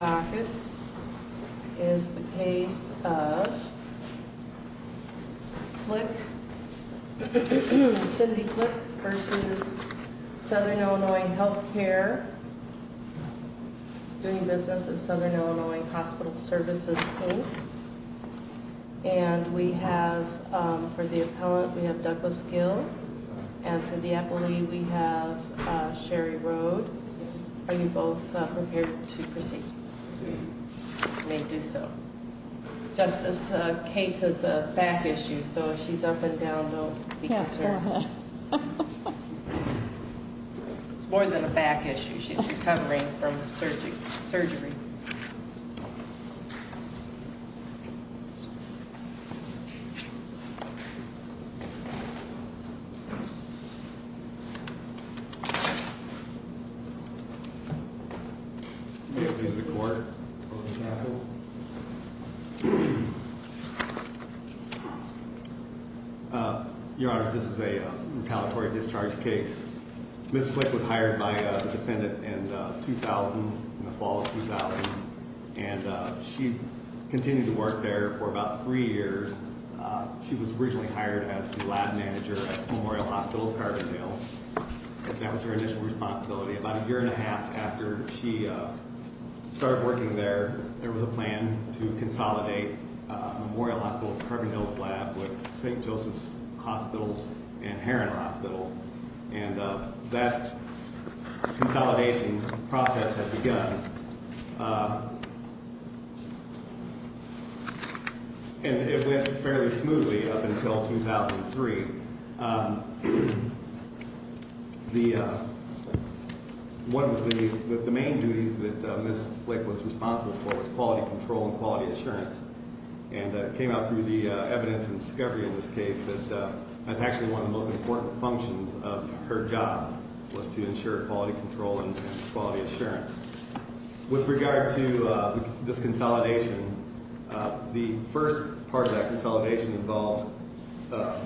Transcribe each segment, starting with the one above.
This is the case of Cindy Flick v. Southern Illinois Healthcare, doing business with Southern Illinois Hospital Services, Inc. And we have, for the appellant, we have Douglas Gill. And for the appellee, we have Sherry Rode. Are you both prepared to proceed? You may do so. Justice Cates has a back issue, so if she's up and down, don't be concerned. It's more than a back issue. She's recovering from surgery. Thank you. You may please record. Your Honor, this is a retaliatory discharge case. Ms. Flick was hired by the defendant in 2000, in the fall of 2000. And she continued to work there for about three years. She was originally hired as the lab manager at Memorial Hospital of Carbondale. That was her initial responsibility. About a year and a half after she started working there, there was a plan to consolidate Memorial Hospital of Carbondale's lab with St. Joseph's Hospital and Heron Hospital. And that consolidation process had begun. And it went fairly smoothly up until 2003. One of the main duties that Ms. Flick was responsible for was quality control and quality assurance. And it came out through the evidence and discovery in this case that that's actually one of the most important functions of her job, was to ensure quality control and quality assurance. With regard to this consolidation, the first part of that consolidation involved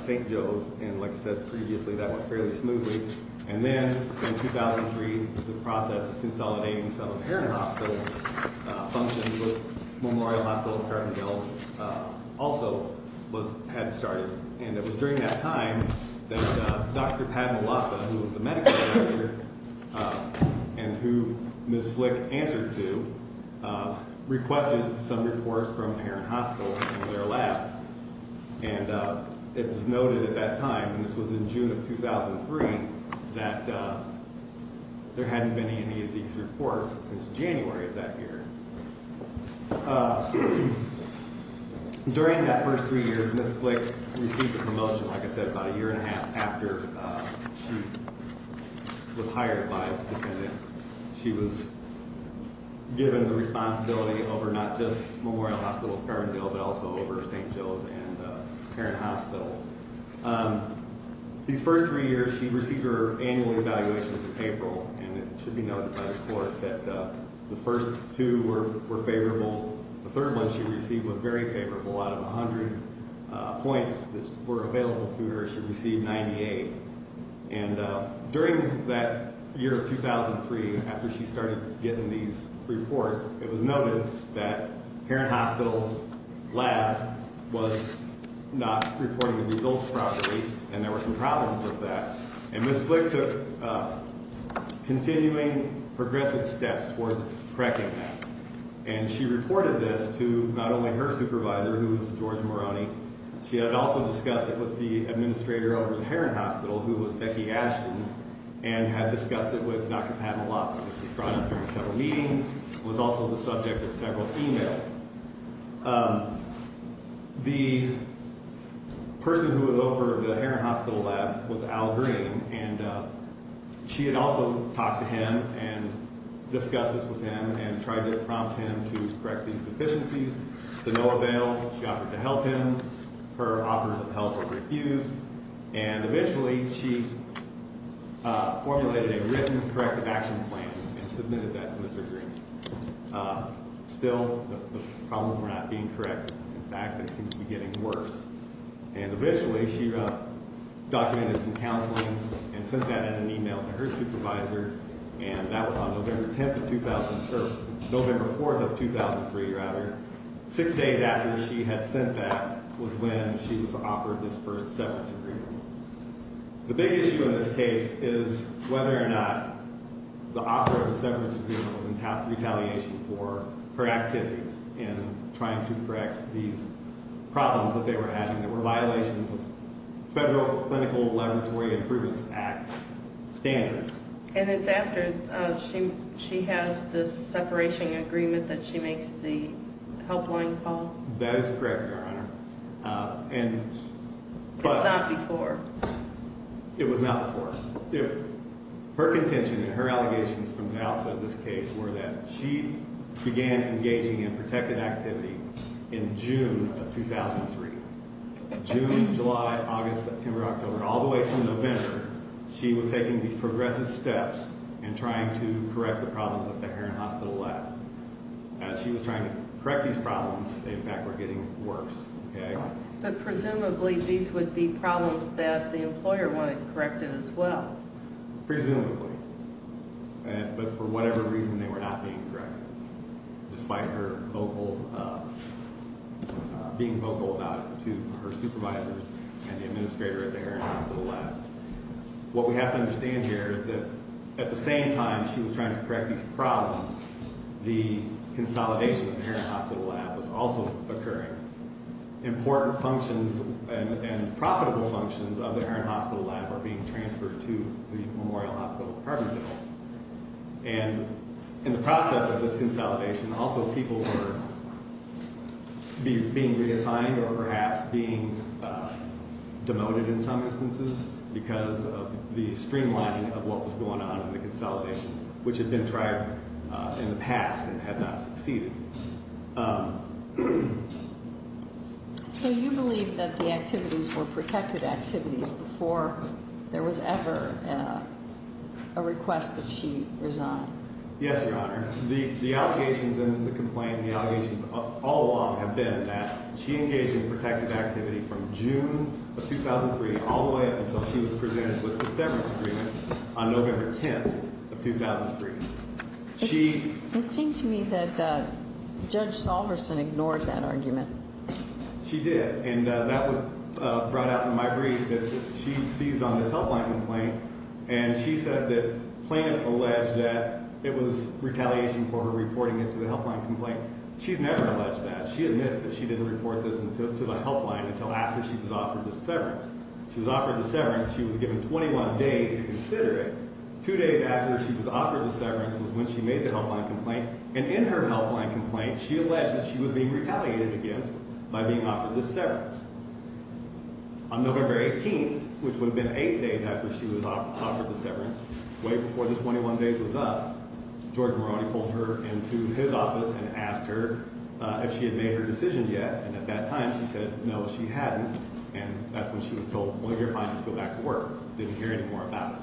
St. Joe's, and like I said previously, that went fairly smoothly. And then, in 2003, the process of consolidating some of Heron Hospital's functions with Memorial Hospital of Carbondale's also had started. And it was during that time that Dr. Padma Laksa, who was the medical director, and who Ms. Flick answered to, requested some reports from Heron Hospital and their lab. And it was noted at that time, and this was in June of 2003, that there hadn't been any of these reports since January of that year. During that first three years, Ms. Flick received a promotion, like I said, about a year and a half after she was hired by the defendant. She was given the responsibility over not just Memorial Hospital of Carbondale, but also over St. Joe's and Heron Hospital. These first three years, she received her annual evaluations in April, and it should be noted by the court that the first two were favorable. The third one she received was very favorable. Out of 100 points that were available to her, she received 98. And during that year of 2003, after she started getting these reports, it was noted that Heron Hospital's lab was not reporting the results properly, and there were some problems with that. And Ms. Flick took continuing, progressive steps towards correcting that. And she reported this to not only her supervisor, who was George Moroney, she had also discussed it with the administrator over at Heron Hospital, who was Becky Ashton, and had discussed it with Dr. Pat Malafa, who was brought in during several meetings, and was also the subject of several emails. The person who had offered the Heron Hospital lab was Al Green, and she had also talked to him and discussed this with him and tried to prompt him to correct these deficiencies. To no avail. She offered to help him. Her offers of help were refused. And eventually, she formulated a written corrective action plan and submitted that to Mr. Green. Still, the problems were not being corrected. In fact, they seemed to be getting worse. And eventually, she documented some counseling and sent that in an email to her supervisor, and that was on November 4th of 2003. Six days after she had sent that was when she was offered this first severance agreement. The big issue in this case is whether or not the offer of the severance agreement was in retaliation for her activities in trying to correct these problems that they were having that were violations of Federal Clinical Laboratory Improvement Act standards. And it's after she has this separation agreement that she makes the helpline call? That is correct, Your Honor. It's not before? It was not before. Her contention and her allegations from the outset of this case were that she began engaging in protective activity in June of 2003. June, July, August, September, October, all the way to November, she was taking these progressive steps in trying to correct the problems at the Heron Hospital lab. As she was trying to correct these problems, they, in fact, were getting worse. But presumably, these would be problems that the employer wanted corrected as well. Presumably. But for whatever reason, they were not being corrected, despite her being vocal about it to her supervisors and the administrator at the Heron Hospital lab. What we have to understand here is that at the same time she was trying to correct these problems, the consolidation of the Heron Hospital lab was also occurring. Important functions and profitable functions of the Heron Hospital lab were being transferred to the Memorial Hospital Department building. And in the process of this consolidation, also people were being reassigned or perhaps being demoted in some instances because of the streamlining of what was going on in the consolidation, which had been tried in the past and had not succeeded. So you believe that the activities were protected activities before there was ever a request that she resign? Yes, Your Honor. The allegations in the complaint, the allegations all along have been that she engaged in protected activity from June of 2003 all the way up until she was presented with the severance agreement on November 10th of 2003. It seemed to me that Judge Salverson ignored that argument. She did, and that was brought out in my brief that she seized on this helpline complaint, and she said that plaintiffs alleged that it was retaliation for her reporting it to the helpline complaint. She's never alleged that. She admits that she didn't report this to the helpline until after she was offered the severance. She was offered the severance. She was given 21 days to consider it. Two days after she was offered the severance was when she made the helpline complaint, and in her helpline complaint, she alleged that she was being retaliated against by being offered this severance. On November 18th, which would have been eight days after she was offered the severance, way before the 21 days was up, George Moroney pulled her into his office and asked her if she had made her decision yet, and at that time she said no, she hadn't, and that's when she was told, well, you're fine. Just go back to work. Didn't hear any more about it.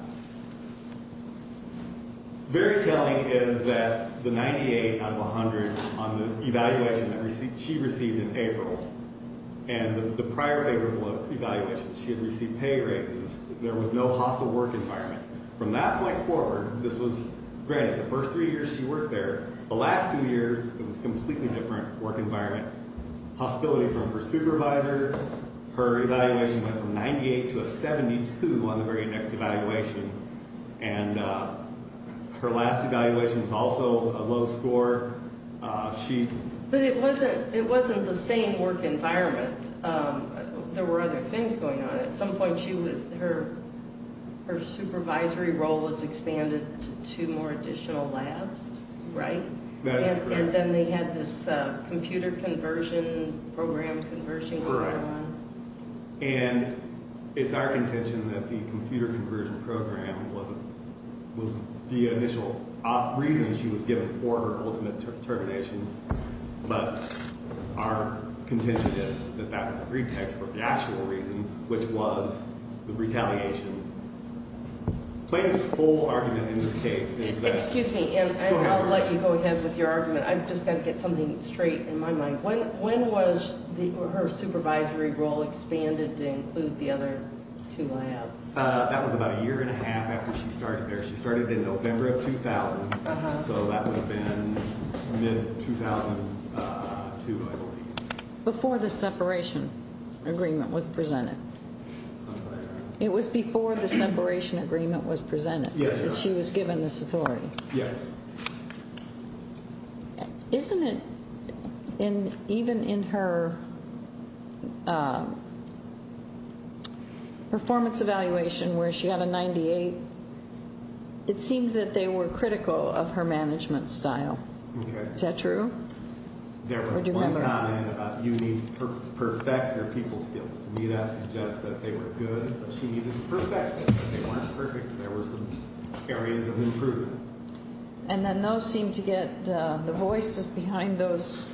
Very telling is that the 98 out of 100 on the evaluation that she received in April and the prior favorable evaluation, she had received pay raises. There was no hostile work environment. From that point forward, this was, granted, the first three years she worked there, the last two years it was a completely different work environment. Hostility from her supervisor, her evaluation went from 98 to a 72 on the very next evaluation, and her last evaluation was also a low score. But it wasn't the same work environment. There were other things going on. At some point, her supervisory role was expanded to more additional labs, right? That is correct. And then they had this computer conversion program conversion going on. And it's our contention that the computer conversion program was the initial reason she was given for her ultimate determination. But our contention is that that was a pretext for the actual reason, which was the retaliation. Plain and simple argument in this case is that... Excuse me, and I'll let you go ahead with your argument. I've just got to get something straight in my mind. When was her supervisory role expanded to include the other two labs? That was about a year and a half after she started there. She started in November of 2000, so that would have been mid-2002, I believe. Before the separation agreement was presented? That's what I heard. It was before the separation agreement was presented that she was given this authority? Yes. Isn't it, even in her performance evaluation where she had a 98, it seemed that they were critical of her management style. Is that true? There was one comment about you need to perfect your people skills. To me, that suggests that they were good, but she needed to perfect them. If they weren't perfect, there were some areas of improvement. And then those seemed to get, the voices behind those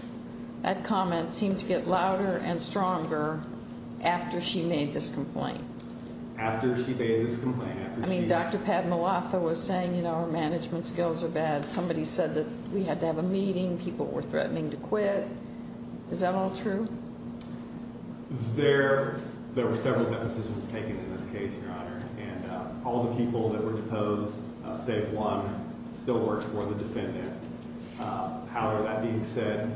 comments seemed to get louder and stronger after she made this complaint. After she made this complaint. I mean, Dr. Padmalatha was saying, you know, her management skills are bad. Somebody said that we had to have a meeting, people were threatening to quit. Is that all true? There were several depositions taken in this case, Your Honor. And all the people that were deposed, save one, still worked for the defendant. However, that being said,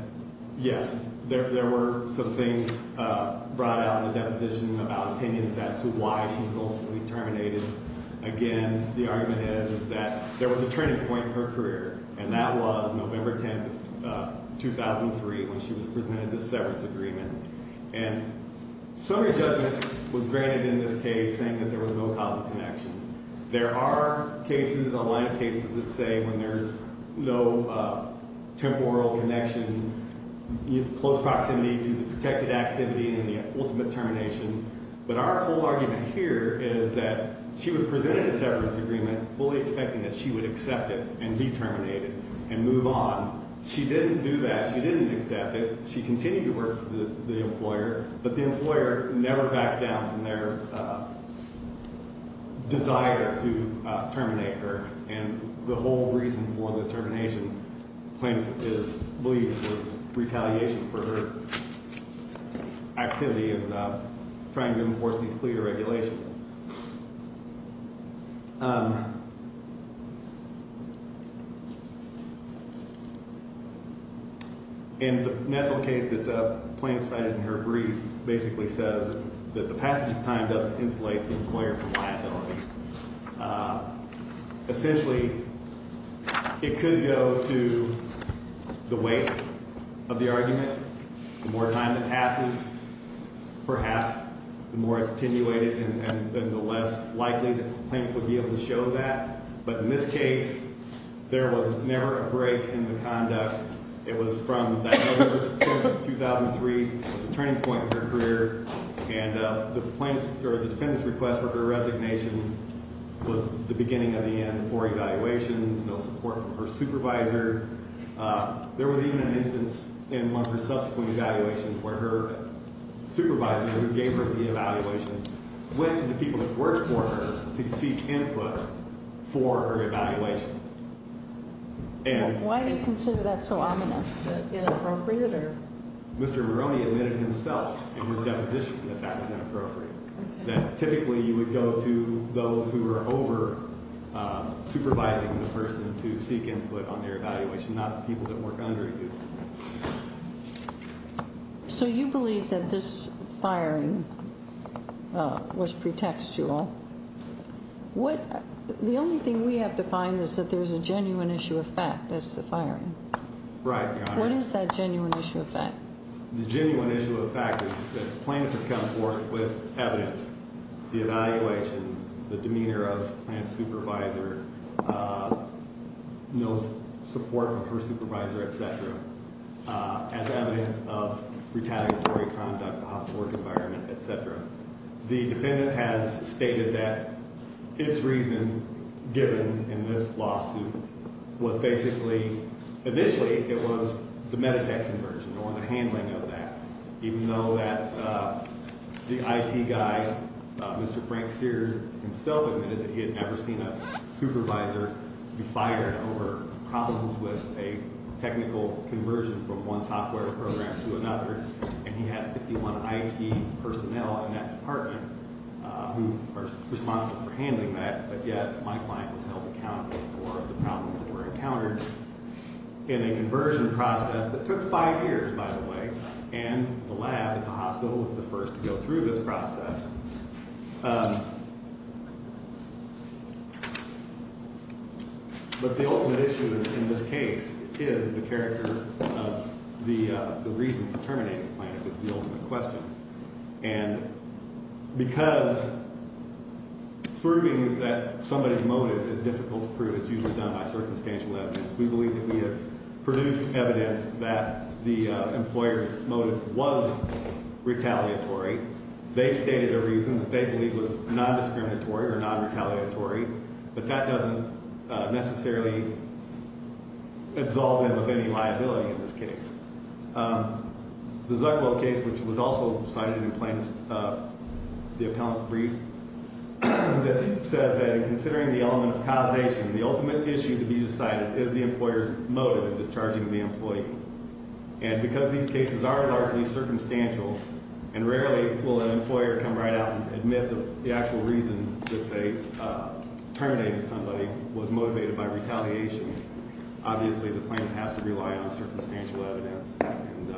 yes, there were some things brought out in the deposition about opinions as to why she was ultimately terminated. Again, the argument is that there was a turning point in her career. And that was November 10, 2003, when she was presented this severance agreement. And summary judgment was granted in this case, saying that there was no causal connection. There are cases, a line of cases, that say when there's no temporal connection, close proximity to the protected activity and the ultimate termination. But our whole argument here is that she was presented a severance agreement fully expecting that she would accept it and be terminated and move on. She didn't do that. She didn't accept it. She continued to work for the employer. But the employer never backed down from their desire to terminate her. And the whole reason for the termination, plaintiff believes, was retaliation for her activity in trying to enforce these clear regulations. And the mental case that the plaintiff cited in her brief basically says that the passage of time doesn't insulate the employer from liability. Essentially, it could go to the weight of the argument. The more time that passes, perhaps, the more attenuated and the less likely that the plaintiff would be able to show that. But in this case, there was never a break in the conduct. It was from November 10, 2003. It was a turning point in her career. And the defendant's request for her resignation was the beginning of the end. Four evaluations, no support from her supervisor. There was even an instance in one of her subsequent evaluations where her supervisor, who gave her the evaluations, went to the people who worked for her to seek input for her evaluation. Why do you consider that so ominous? Inappropriate? Mr. Moroney admitted himself in his deposition that that was inappropriate, that typically you would go to those who are over-supervising the person to seek input on their evaluation, not the people that work under you. So you believe that this firing was pretextual. The only thing we have to find is that there's a genuine issue of fact as to the firing. Right, Your Honor. What is that genuine issue of fact? The genuine issue of fact is that the plaintiff has come forth with evidence, the evaluations, the demeanor of the plaintiff's supervisor, no support from her supervisor, etc., as evidence of retaliatory conduct, the hospital work environment, etc. The defendant has stated that its reason given in this lawsuit was basically, initially it was the Meditech conversion or the handling of that, even though that the IT guy, Mr. Frank Sears himself admitted that he had never seen a supervisor be fired over problems with a technical conversion from one software program to another. And he has 51 IT personnel in that department who are responsible for handling that, but yet my client was held accountable for the problems that were encountered in a conversion process that took five years, by the way, and the lab at the hospital was the first to go through this process. But the ultimate issue in this case is the character of the reason for terminating the plaintiff is the ultimate question, and because proving that somebody's motive is difficult to prove is usually done by circumstantial evidence, we believe that we have produced evidence that the employer's motive was retaliatory. They stated a reason that they believe was non-discriminatory or non-retaliatory, but that doesn't necessarily absolve them of any liability in this case. The Zuclow case, which was also cited in the plaintiff's, the appellant's brief, says that in considering the element of causation, the ultimate issue to be decided is the employer's motive in discharging the employee. And because these cases are largely circumstantial, and rarely will an employer come right out and admit the actual reason that they terminated somebody was motivated by retaliation, obviously the plaintiff has to rely on circumstantial evidence. And do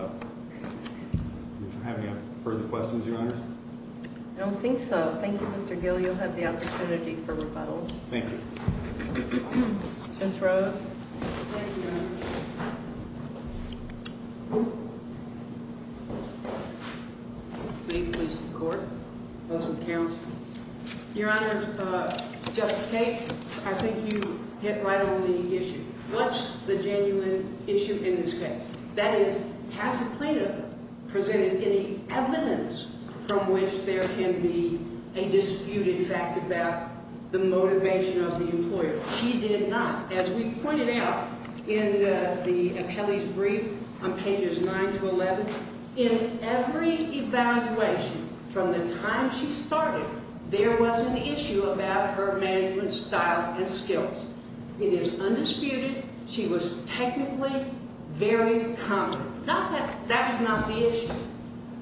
you have any further questions, Your Honor? I don't think so. Thank you, Mr. Gill. You'll have the opportunity for rebuttal. Thank you. Ms. Rowe? Thank you, Your Honor. May it please the Court? Counsel? Your Honor, just in case, I think you hit right on the issue. What's the genuine issue in this case? That is, has the plaintiff presented any evidence from which there can be a disputed fact about the motivation of the employer? She did not. As we pointed out in the appellee's brief on pages 9 to 11, in every evaluation from the time she started, there was an issue about her management style and skills. It is undisputed she was technically very competent. That is not the issue.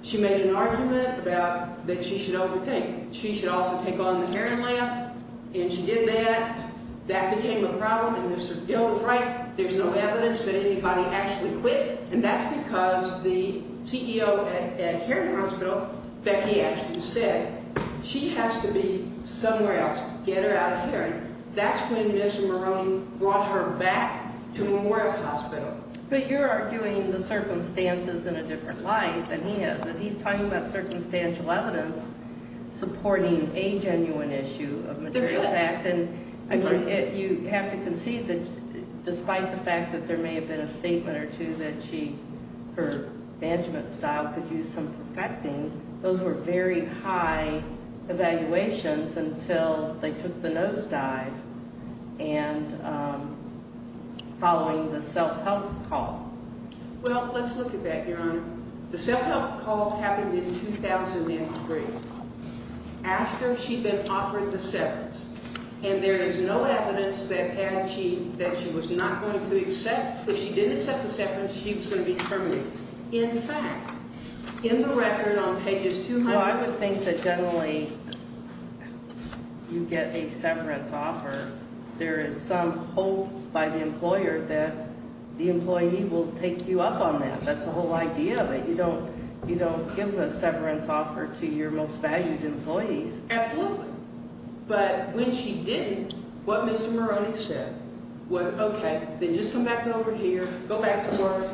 She made an argument about that she should overthink. She should also take on the hearing lamp, and she did that. That became a problem, and Mr. Gill was right. There's no evidence that anybody actually quit, and that's because the CEO at Heron Hospital, Becky Ashton, said she has to be somewhere else. Get her out of Heron. That's when Mr. Maroney brought her back to Memorial Hospital. But you're arguing the circumstances in a different light than he is. He's talking about circumstantial evidence supporting a genuine issue of material fact, and you have to concede that despite the fact that there may have been a statement or two that her management style could use some perfecting, those were very high evaluations until they took the nosedive and following the self-help call. Well, let's look at that, Your Honor. The self-help call happened in 2003 after she'd been offered the severance, and there is no evidence that she was not going to accept. If she didn't accept the severance, she was going to be terminated. In fact, in the record on pages 200- Well, I would think that generally you get a severance offer. There is some hope by the employer that the employee will take you up on that. That's the whole idea, that you don't give a severance offer to your most valued employees. Absolutely. But when she didn't, what Mr. Maroney said was, okay, then just come back over here, go back to work,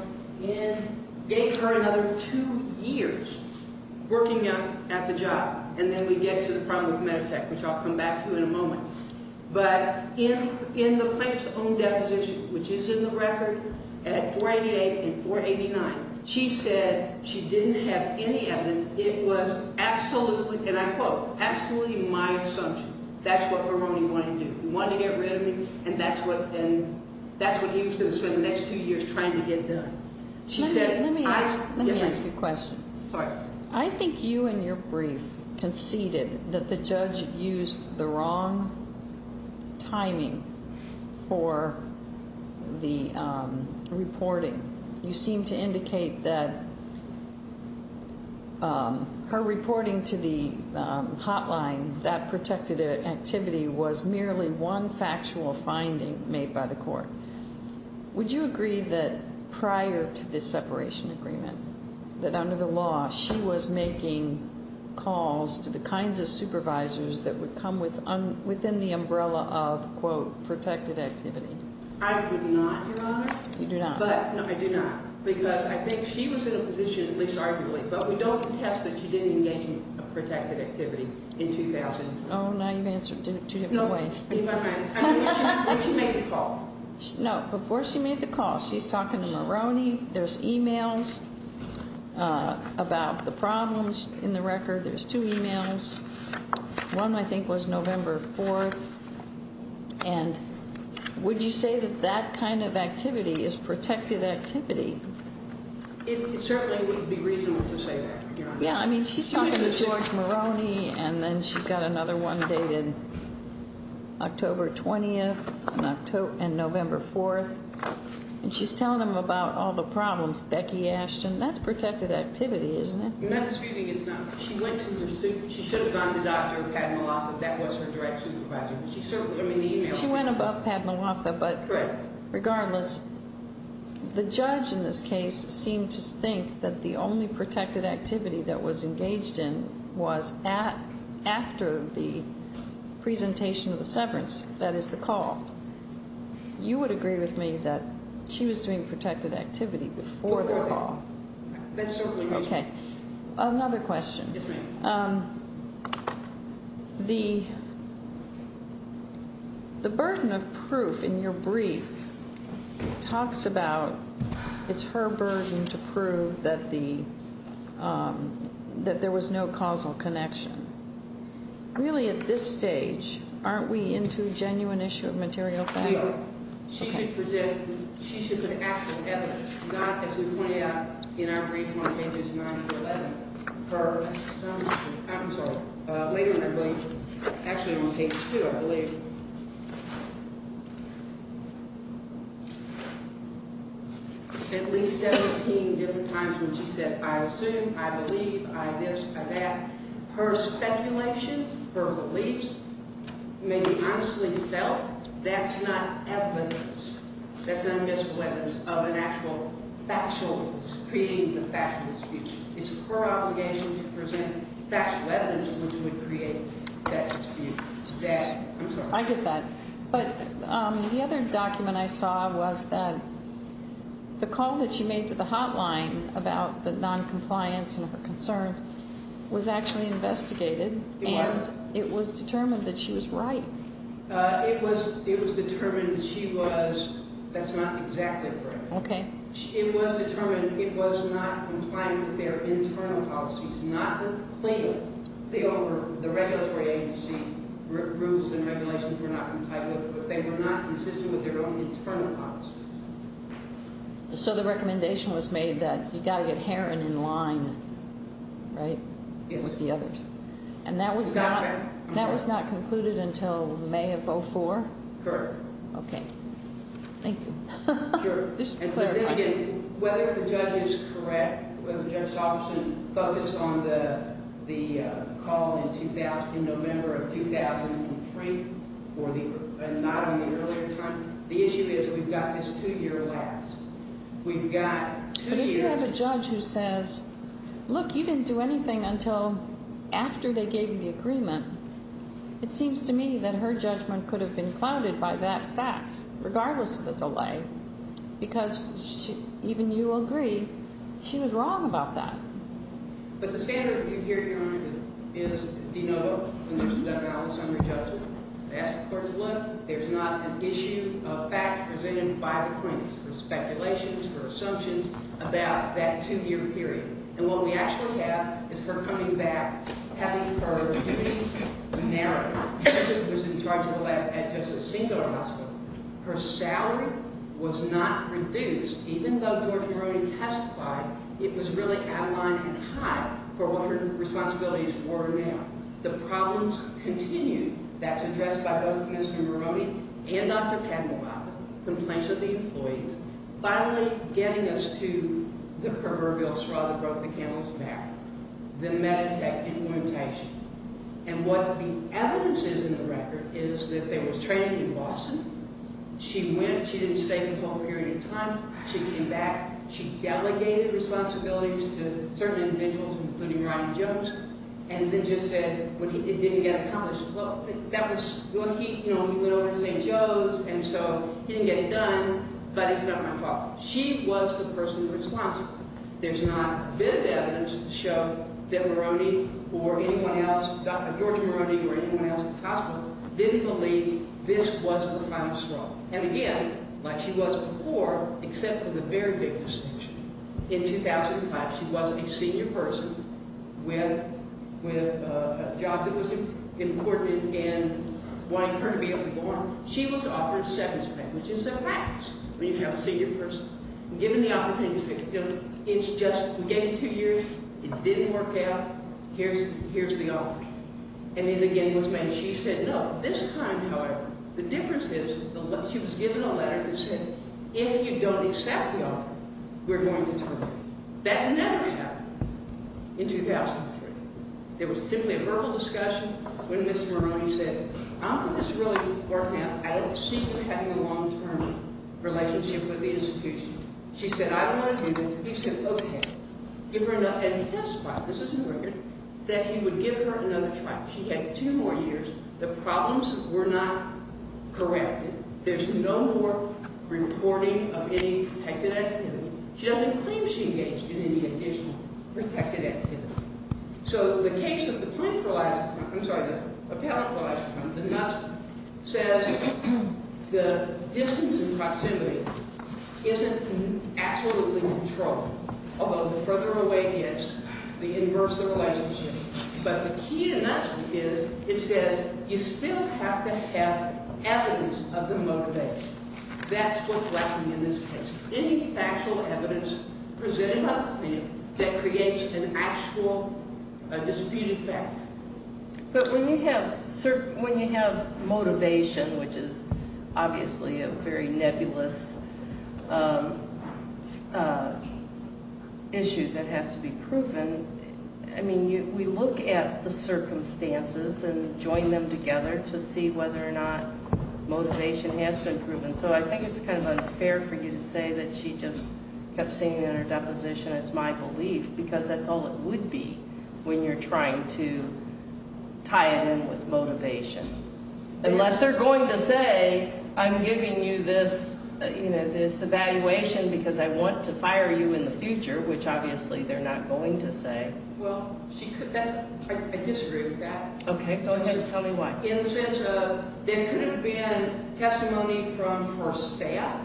and gave her another two years working at the job, and then we get to the problem with Meditech, which I'll come back to in a moment. But in the plaintiff's own deposition, which is in the record at 488 and 489, she said she didn't have any evidence. It was absolutely, and I quote, absolutely my assumption. That's what Maroney wanted to do. He wanted to get rid of me, and that's what he was going to spend the next two years trying to get done. Let me ask you a question. Sorry. I think you in your brief conceded that the judge used the wrong timing for the reporting. You seemed to indicate that her reporting to the hotline, that protective activity, was merely one factual finding made by the court. Would you agree that prior to this separation agreement, that under the law, she was making calls to the kinds of supervisors that would come within the umbrella of, quote, protected activity? I could not, Your Honor. You do not. No, I do not, because I think she was in a position, at least arguably, but we don't contest that she didn't engage in protected activity in 2000. Oh, now you've answered it two different ways. Before she made the call. No, before she made the call, she's talking to Maroney. There's e-mails about the problems in the record. There's two e-mails. One, I think, was November 4th. And would you say that that kind of activity is protected activity? It certainly would be reasonable to say that, Your Honor. Yeah, I mean, she's talking to George Maroney, and then she's got another one dated October 20th and November 4th, and she's telling him about all the problems, Becky Ashton. That's protected activity, isn't it? Not disputing it's not. She went to the pursuit. She should have gone to Dr. Padmalaka. That was her direction. She went above Padmalaka, but regardless, the judge in this case seemed to think that the only protected activity that was engaged in was after the presentation of the severance, that is, the call. You would agree with me that she was doing protected activity before the call? Before the call. That's certainly reasonable. Another question. Yes, ma'am. The burden of proof in your brief talks about it's her burden to prove that there was no causal connection. Really, at this stage, aren't we into a genuine issue of material fact? She should present, she should put actual evidence, not as we pointed out in our brief on pages 9 through 11. Her assumption, I'm sorry, later in her brief, actually on page 2, I believe. At least 17 different times when she said, I assume, I believe, I this, I that. Her speculation, her beliefs may be honestly felt. That's not evidence. That's not evidence of an actual factual, creating the factual dispute. It's her obligation to present factual evidence which would create that dispute. I'm sorry. I get that. But the other document I saw was that the call that she made to the hotline about the noncompliance and her concerns was actually investigated. It was. And it was determined that she was right. It was determined she was, that's not exactly correct. Okay. It was determined it was not compliant with their internal policies. The owner, the regulatory agency, rules and regulations were not compliant with it. They were not consistent with their own internal policies. So the recommendation was made that you've got to get Herron in line, right, with the others. Yes. And that was not concluded until May of 04? Correct. Okay. Thank you. Sure. Whether the judge is correct, whether Judge Thompson focused on the call in November of 2003 or not in the earlier time, the issue is we've got this two-year lapse. We've got two years. I have a judge who says, look, you didn't do anything until after they gave you the agreement. It seems to me that her judgment could have been clouded by that fact, regardless of the delay, because even you will agree she was wrong about that. But the standard that you hear here, Your Honor, is denotable. And there's a balanced summary judgment. That's the court's look. There's not an issue of fact presented by the plaintiffs for speculations, for assumptions about that two-year period. And what we actually have is her coming back, having her duties narrowed. She was in charge of the lab at just a singular hospital. Her salary was not reduced. Even though George Herron testified, it was really out of line and high for what her responsibilities were now. The problems continue. That's addressed by both Ms. Duberoni and Dr. Kadmohan, complaints of the employees. Finally, getting us to the proverbial straw that broke the camel's back, the Meditech implementation. And what the evidence is in the record is that there was training in Boston. She went. She didn't stay for the whole period of time. She came back. She delegated responsibilities to certain individuals, including Ryan Jones, and then just said it didn't get accomplished. Well, he went over to St. Joe's, and so he didn't get it done, but it's not my fault. She was the person responsible. There's not a bit of evidence to show that Moroni or anyone else, Dr. George Moroni or anyone else at the hospital, didn't believe this was the final straw. And again, like she was before, except for the very big distinction. In 2005, she was a senior person with a job that was important in wanting her to be able to go on. She was offered seventh grade, which is the highest when you have a senior person. Given the opportunities, it's just we gave you two years. It didn't work out. Here's the offer. And it again was made. She said no. This time, however, the difference is she was given a letter that said if you don't accept the offer, we're going to terminate it. That never happened in 2003. It was simply a verbal discussion when Ms. Moroni said, I don't think this will really work out. I don't see her having a long-term relationship with the institution. She said, I don't want to do it. He said, okay. And he testified, this is in the record, that he would give her another trial. She had two more years. The problems were not corrected. There's no more reporting of any protected activity. She doesn't claim she engaged in any additional protected activity. So, the case of the parenteralized, I'm sorry, the parentalized, the NUSP, says the distance and proximity isn't absolutely controlled. Although, the further away it gets, the inverse of the relationship. But the key to NUSP is it says you still have to have evidence of the motivation. That's what's lacking in this case. Any factual evidence presented on the field that creates an actual disputed fact. But when you have motivation, which is obviously a very nebulous issue that has to be proven, I mean, we look at the circumstances and join them together to see whether or not motivation has been proven. So, I think it's kind of unfair for you to say that she just kept saying in her deposition, it's my belief. Because that's all it would be when you're trying to tie it in with motivation. Unless they're going to say, I'm giving you this evaluation because I want to fire you in the future. Which, obviously, they're not going to say. Well, I disagree with that. Okay, go ahead. Tell me why. In the sense of, there could have been testimony from her staff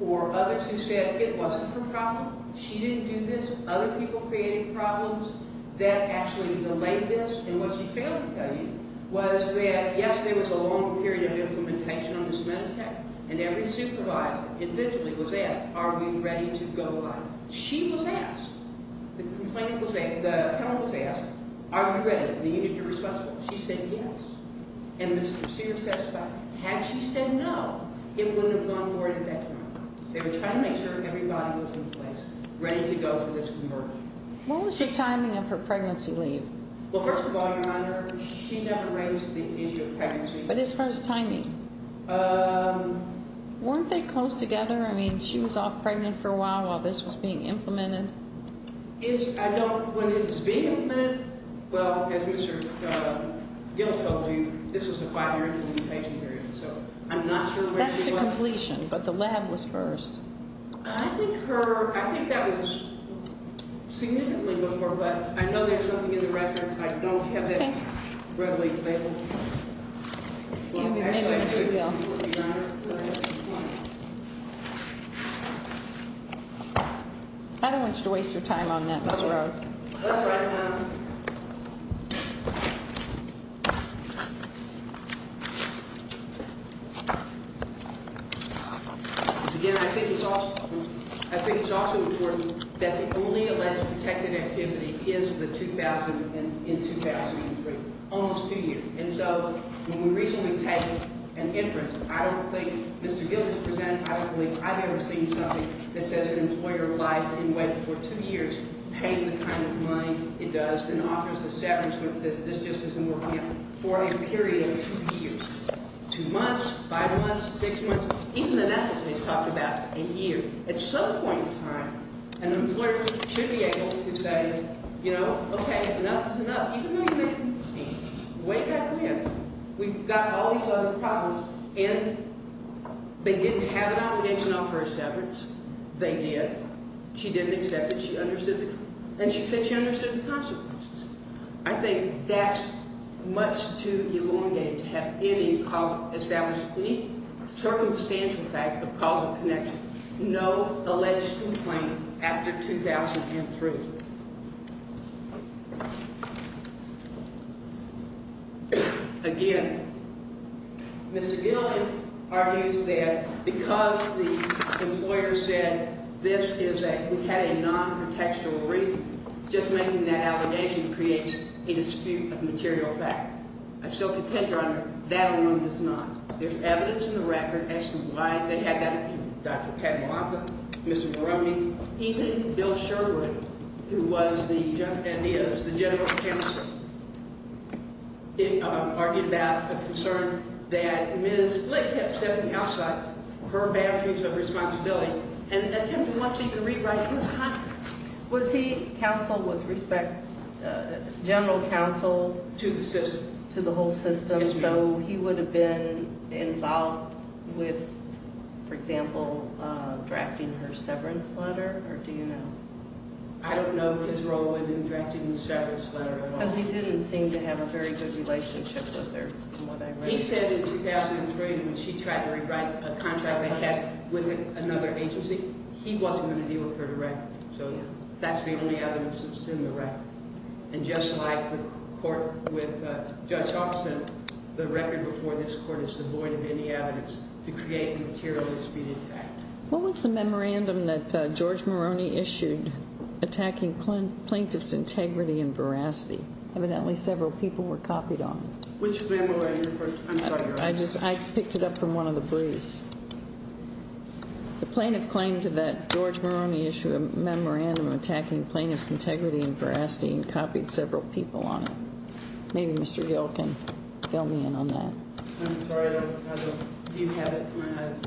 or others who said it wasn't her problem. She didn't do this. Other people created problems that actually delayed this. And what she failed to tell you was that, yes, there was a long period of implementation on this Meditech. And every supervisor individually was asked, are we ready to go by? She was asked. The complainant was asked. The appellant was asked. Are you ready? The unit you're responsible? She said yes. And Mr. Sears testified. Had she said no, it wouldn't have gone forward at that time. They were trying to make sure everybody was in place, ready to go for this conversion. What was the timing of her pregnancy leave? Well, first of all, Your Honor, she never raised the issue of pregnancy. But as far as timing? Weren't they close together? I mean, she was off pregnant for a while while this was being implemented. I don't know when it was being implemented. Well, as Mr. Gill told you, this was a five-year implementation period. So I'm not sure where she was. That's to completion. But the lab was first. I think that was significantly before. But I know there's something in the records. I don't have that readily available. Thank you, Mr. Gill. I don't want you to waste your time on that, Ms. Rowe. That's right, Your Honor. Again, I think it's also important that the only alleged protected activity is in 2003, almost two years. And so when we recently take an inference, I don't think Mr. Gill has presented it. I don't believe I've ever seen something that says an employer lies in wait for two years, paying the kind of money it does, and offers a severance. This just has been working out for a period of two years, two months, five months, six months. Even in essence, it's talked about a year. At some point in time, an employer should be able to say, you know, okay, enough is enough. Even though you make me wait that long, we've got all these other problems. And they didn't have an obligation to offer a severance. They did. She didn't accept it. And she said she understood the consequences. I think that's much too elongated to have any established, any circumstantial fact of causal connection. No alleged complaint after 2003. Again, Mr. Gillian argues that because the employer said this is a, we had a non-protectional reason, just making that allegation creates a dispute of material fact. I still contend, Your Honor, that alone does not. There's evidence in the record as to why they had that opinion. Dr. Patty Watson, Mr. Maroney, even Bill Sherwood, who was the, and is the general counsel, argued that concern that Ms. Flake had stepped outside her boundaries of responsibility and attempted once again to rewrite his contract. Was he counsel with respect, general counsel? To the system. To the whole system. Yes, ma'am. So he would have been involved with, for example, drafting her severance letter, or do you know? I don't know his role in drafting the severance letter at all. Because he didn't seem to have a very good relationship with her from what I read. He said in 2003 when she tried to rewrite a contract they had with another agency, he wasn't going to deal with her directly. So that's the only evidence that's in the record. And just like the court with Judge Austin, the record before this court is devoid of any evidence to create the material that's being attacked. What was the memorandum that George Maroney issued attacking plaintiffs' integrity and veracity? Evidently several people were copied on it. Which memorandum? I'm sorry, Your Honor. I just, I picked it up from one of the briefs. The plaintiff claimed that George Maroney issued a memorandum attacking plaintiffs' integrity and veracity and copied several people on it. Maybe Mr. Gill can fill me in on that. I'm sorry, I don't have it. Do you have it?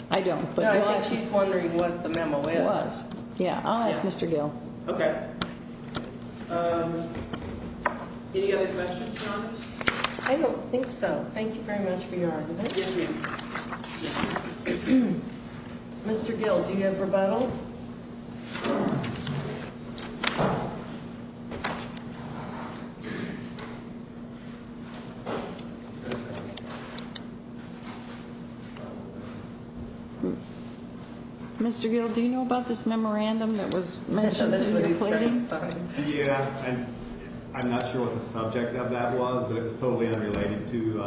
I don't. No, I think she's wondering what the memo is. It was. Yeah, I'll ask Mr. Gill. Okay. Any other questions, Your Honor? I don't think so. Thank you very much for your argument. Yes, ma'am. Mr. Gill, do you have rebuttal? Mr. Gill, do you know about this memorandum that was mentioned in your plaiting? Yeah, I'm not sure what the subject of that was, but it was totally unrelated to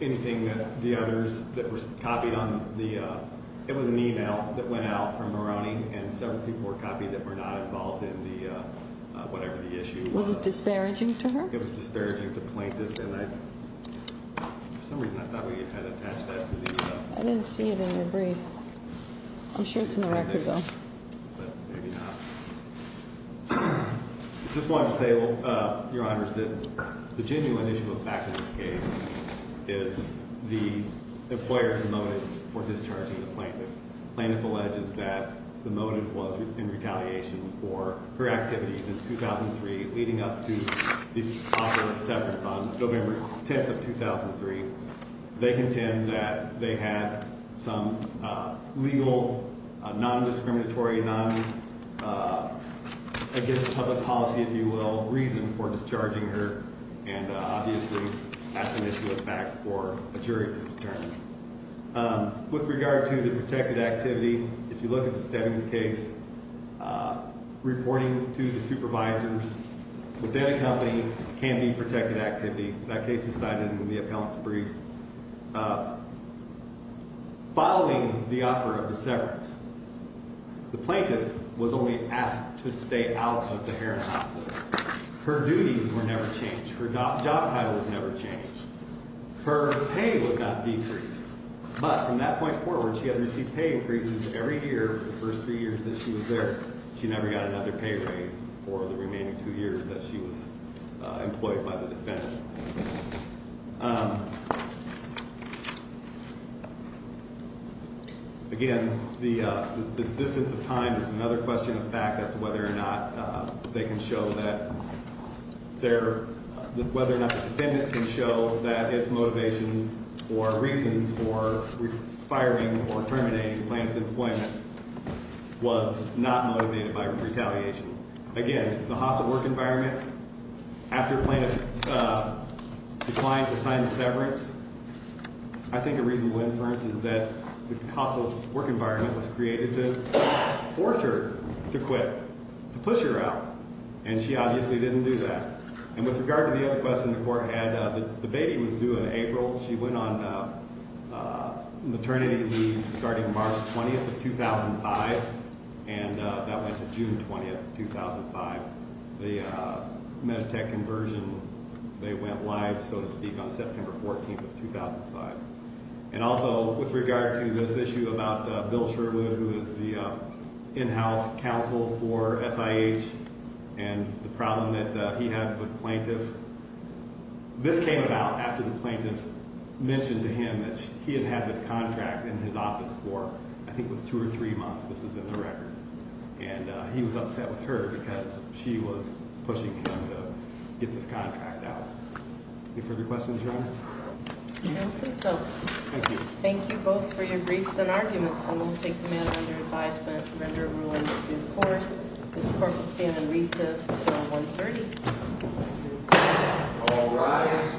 anything that the others that were copied on the, it was an email that went out from Maroney and several people were copied that were not involved in the, whatever the issue was. Was it disparaging to her? It was disparaging to plaintiffs, and I, for some reason I thought we had attached that to the. I didn't see it in your brief. I'm sure it's in the record, though. But maybe not. I just wanted to say, Your Honors, that the genuine issue of fact in this case is the employer's motive for discharging the plaintiff. Plaintiff alleges that the motive was in retaliation for her activities in 2003 leading up to the offer of severance on November 10th of 2003. They contend that they had some legal, non-discriminatory, non, I guess public policy, if you will, reason for discharging her, and obviously that's an issue of fact for a jury to determine. With regard to the protected activity, if you look at the Stebbings case, reporting to the supervisors within a company can be protected activity. That case is cited in the appellant's brief. Following the offer of the severance, the plaintiff was only asked to stay out of the Heron Hospital. Her duties were never changed. Her job title was never changed. Her pay was not decreased. But from that point forward, she had received pay increases every year for the first three years that she was there. She never got another pay raise for the remaining two years that she was employed by the defendant. Again, the distance of time is another question of fact as to whether or not they can show that their, whether or not the defendant can show that its motivation or reasons for firing or terminating the plaintiff's employment was not motivated by retaliation. Again, the hostile work environment, after the plaintiff declined to sign the severance, I think a reasonable inference is that the hostile work environment was created to force her to quit, to push her out, and she obviously didn't do that. And with regard to the other question the court had, the baby was due in April. She went on maternity leave starting March 20th of 2005, and that went to June 20th of 2005. The Meditech conversion, they went live, so to speak, on September 14th of 2005. And also, with regard to this issue about Bill Sherwood, who was the in-house counsel for SIH and the problem that he had with the plaintiff, this came about after the plaintiff mentioned to him that he had had this contract in his office for, I think it was two or three months, this is in the record. And he was upset with her because she was pushing him to get this contract out. Any further questions, Your Honor? I don't think so. Thank you. Thank you both for your briefs and arguments, and we'll take a minute under advisement to render a ruling in due course. This court will stand in recess until 1.30. All rise.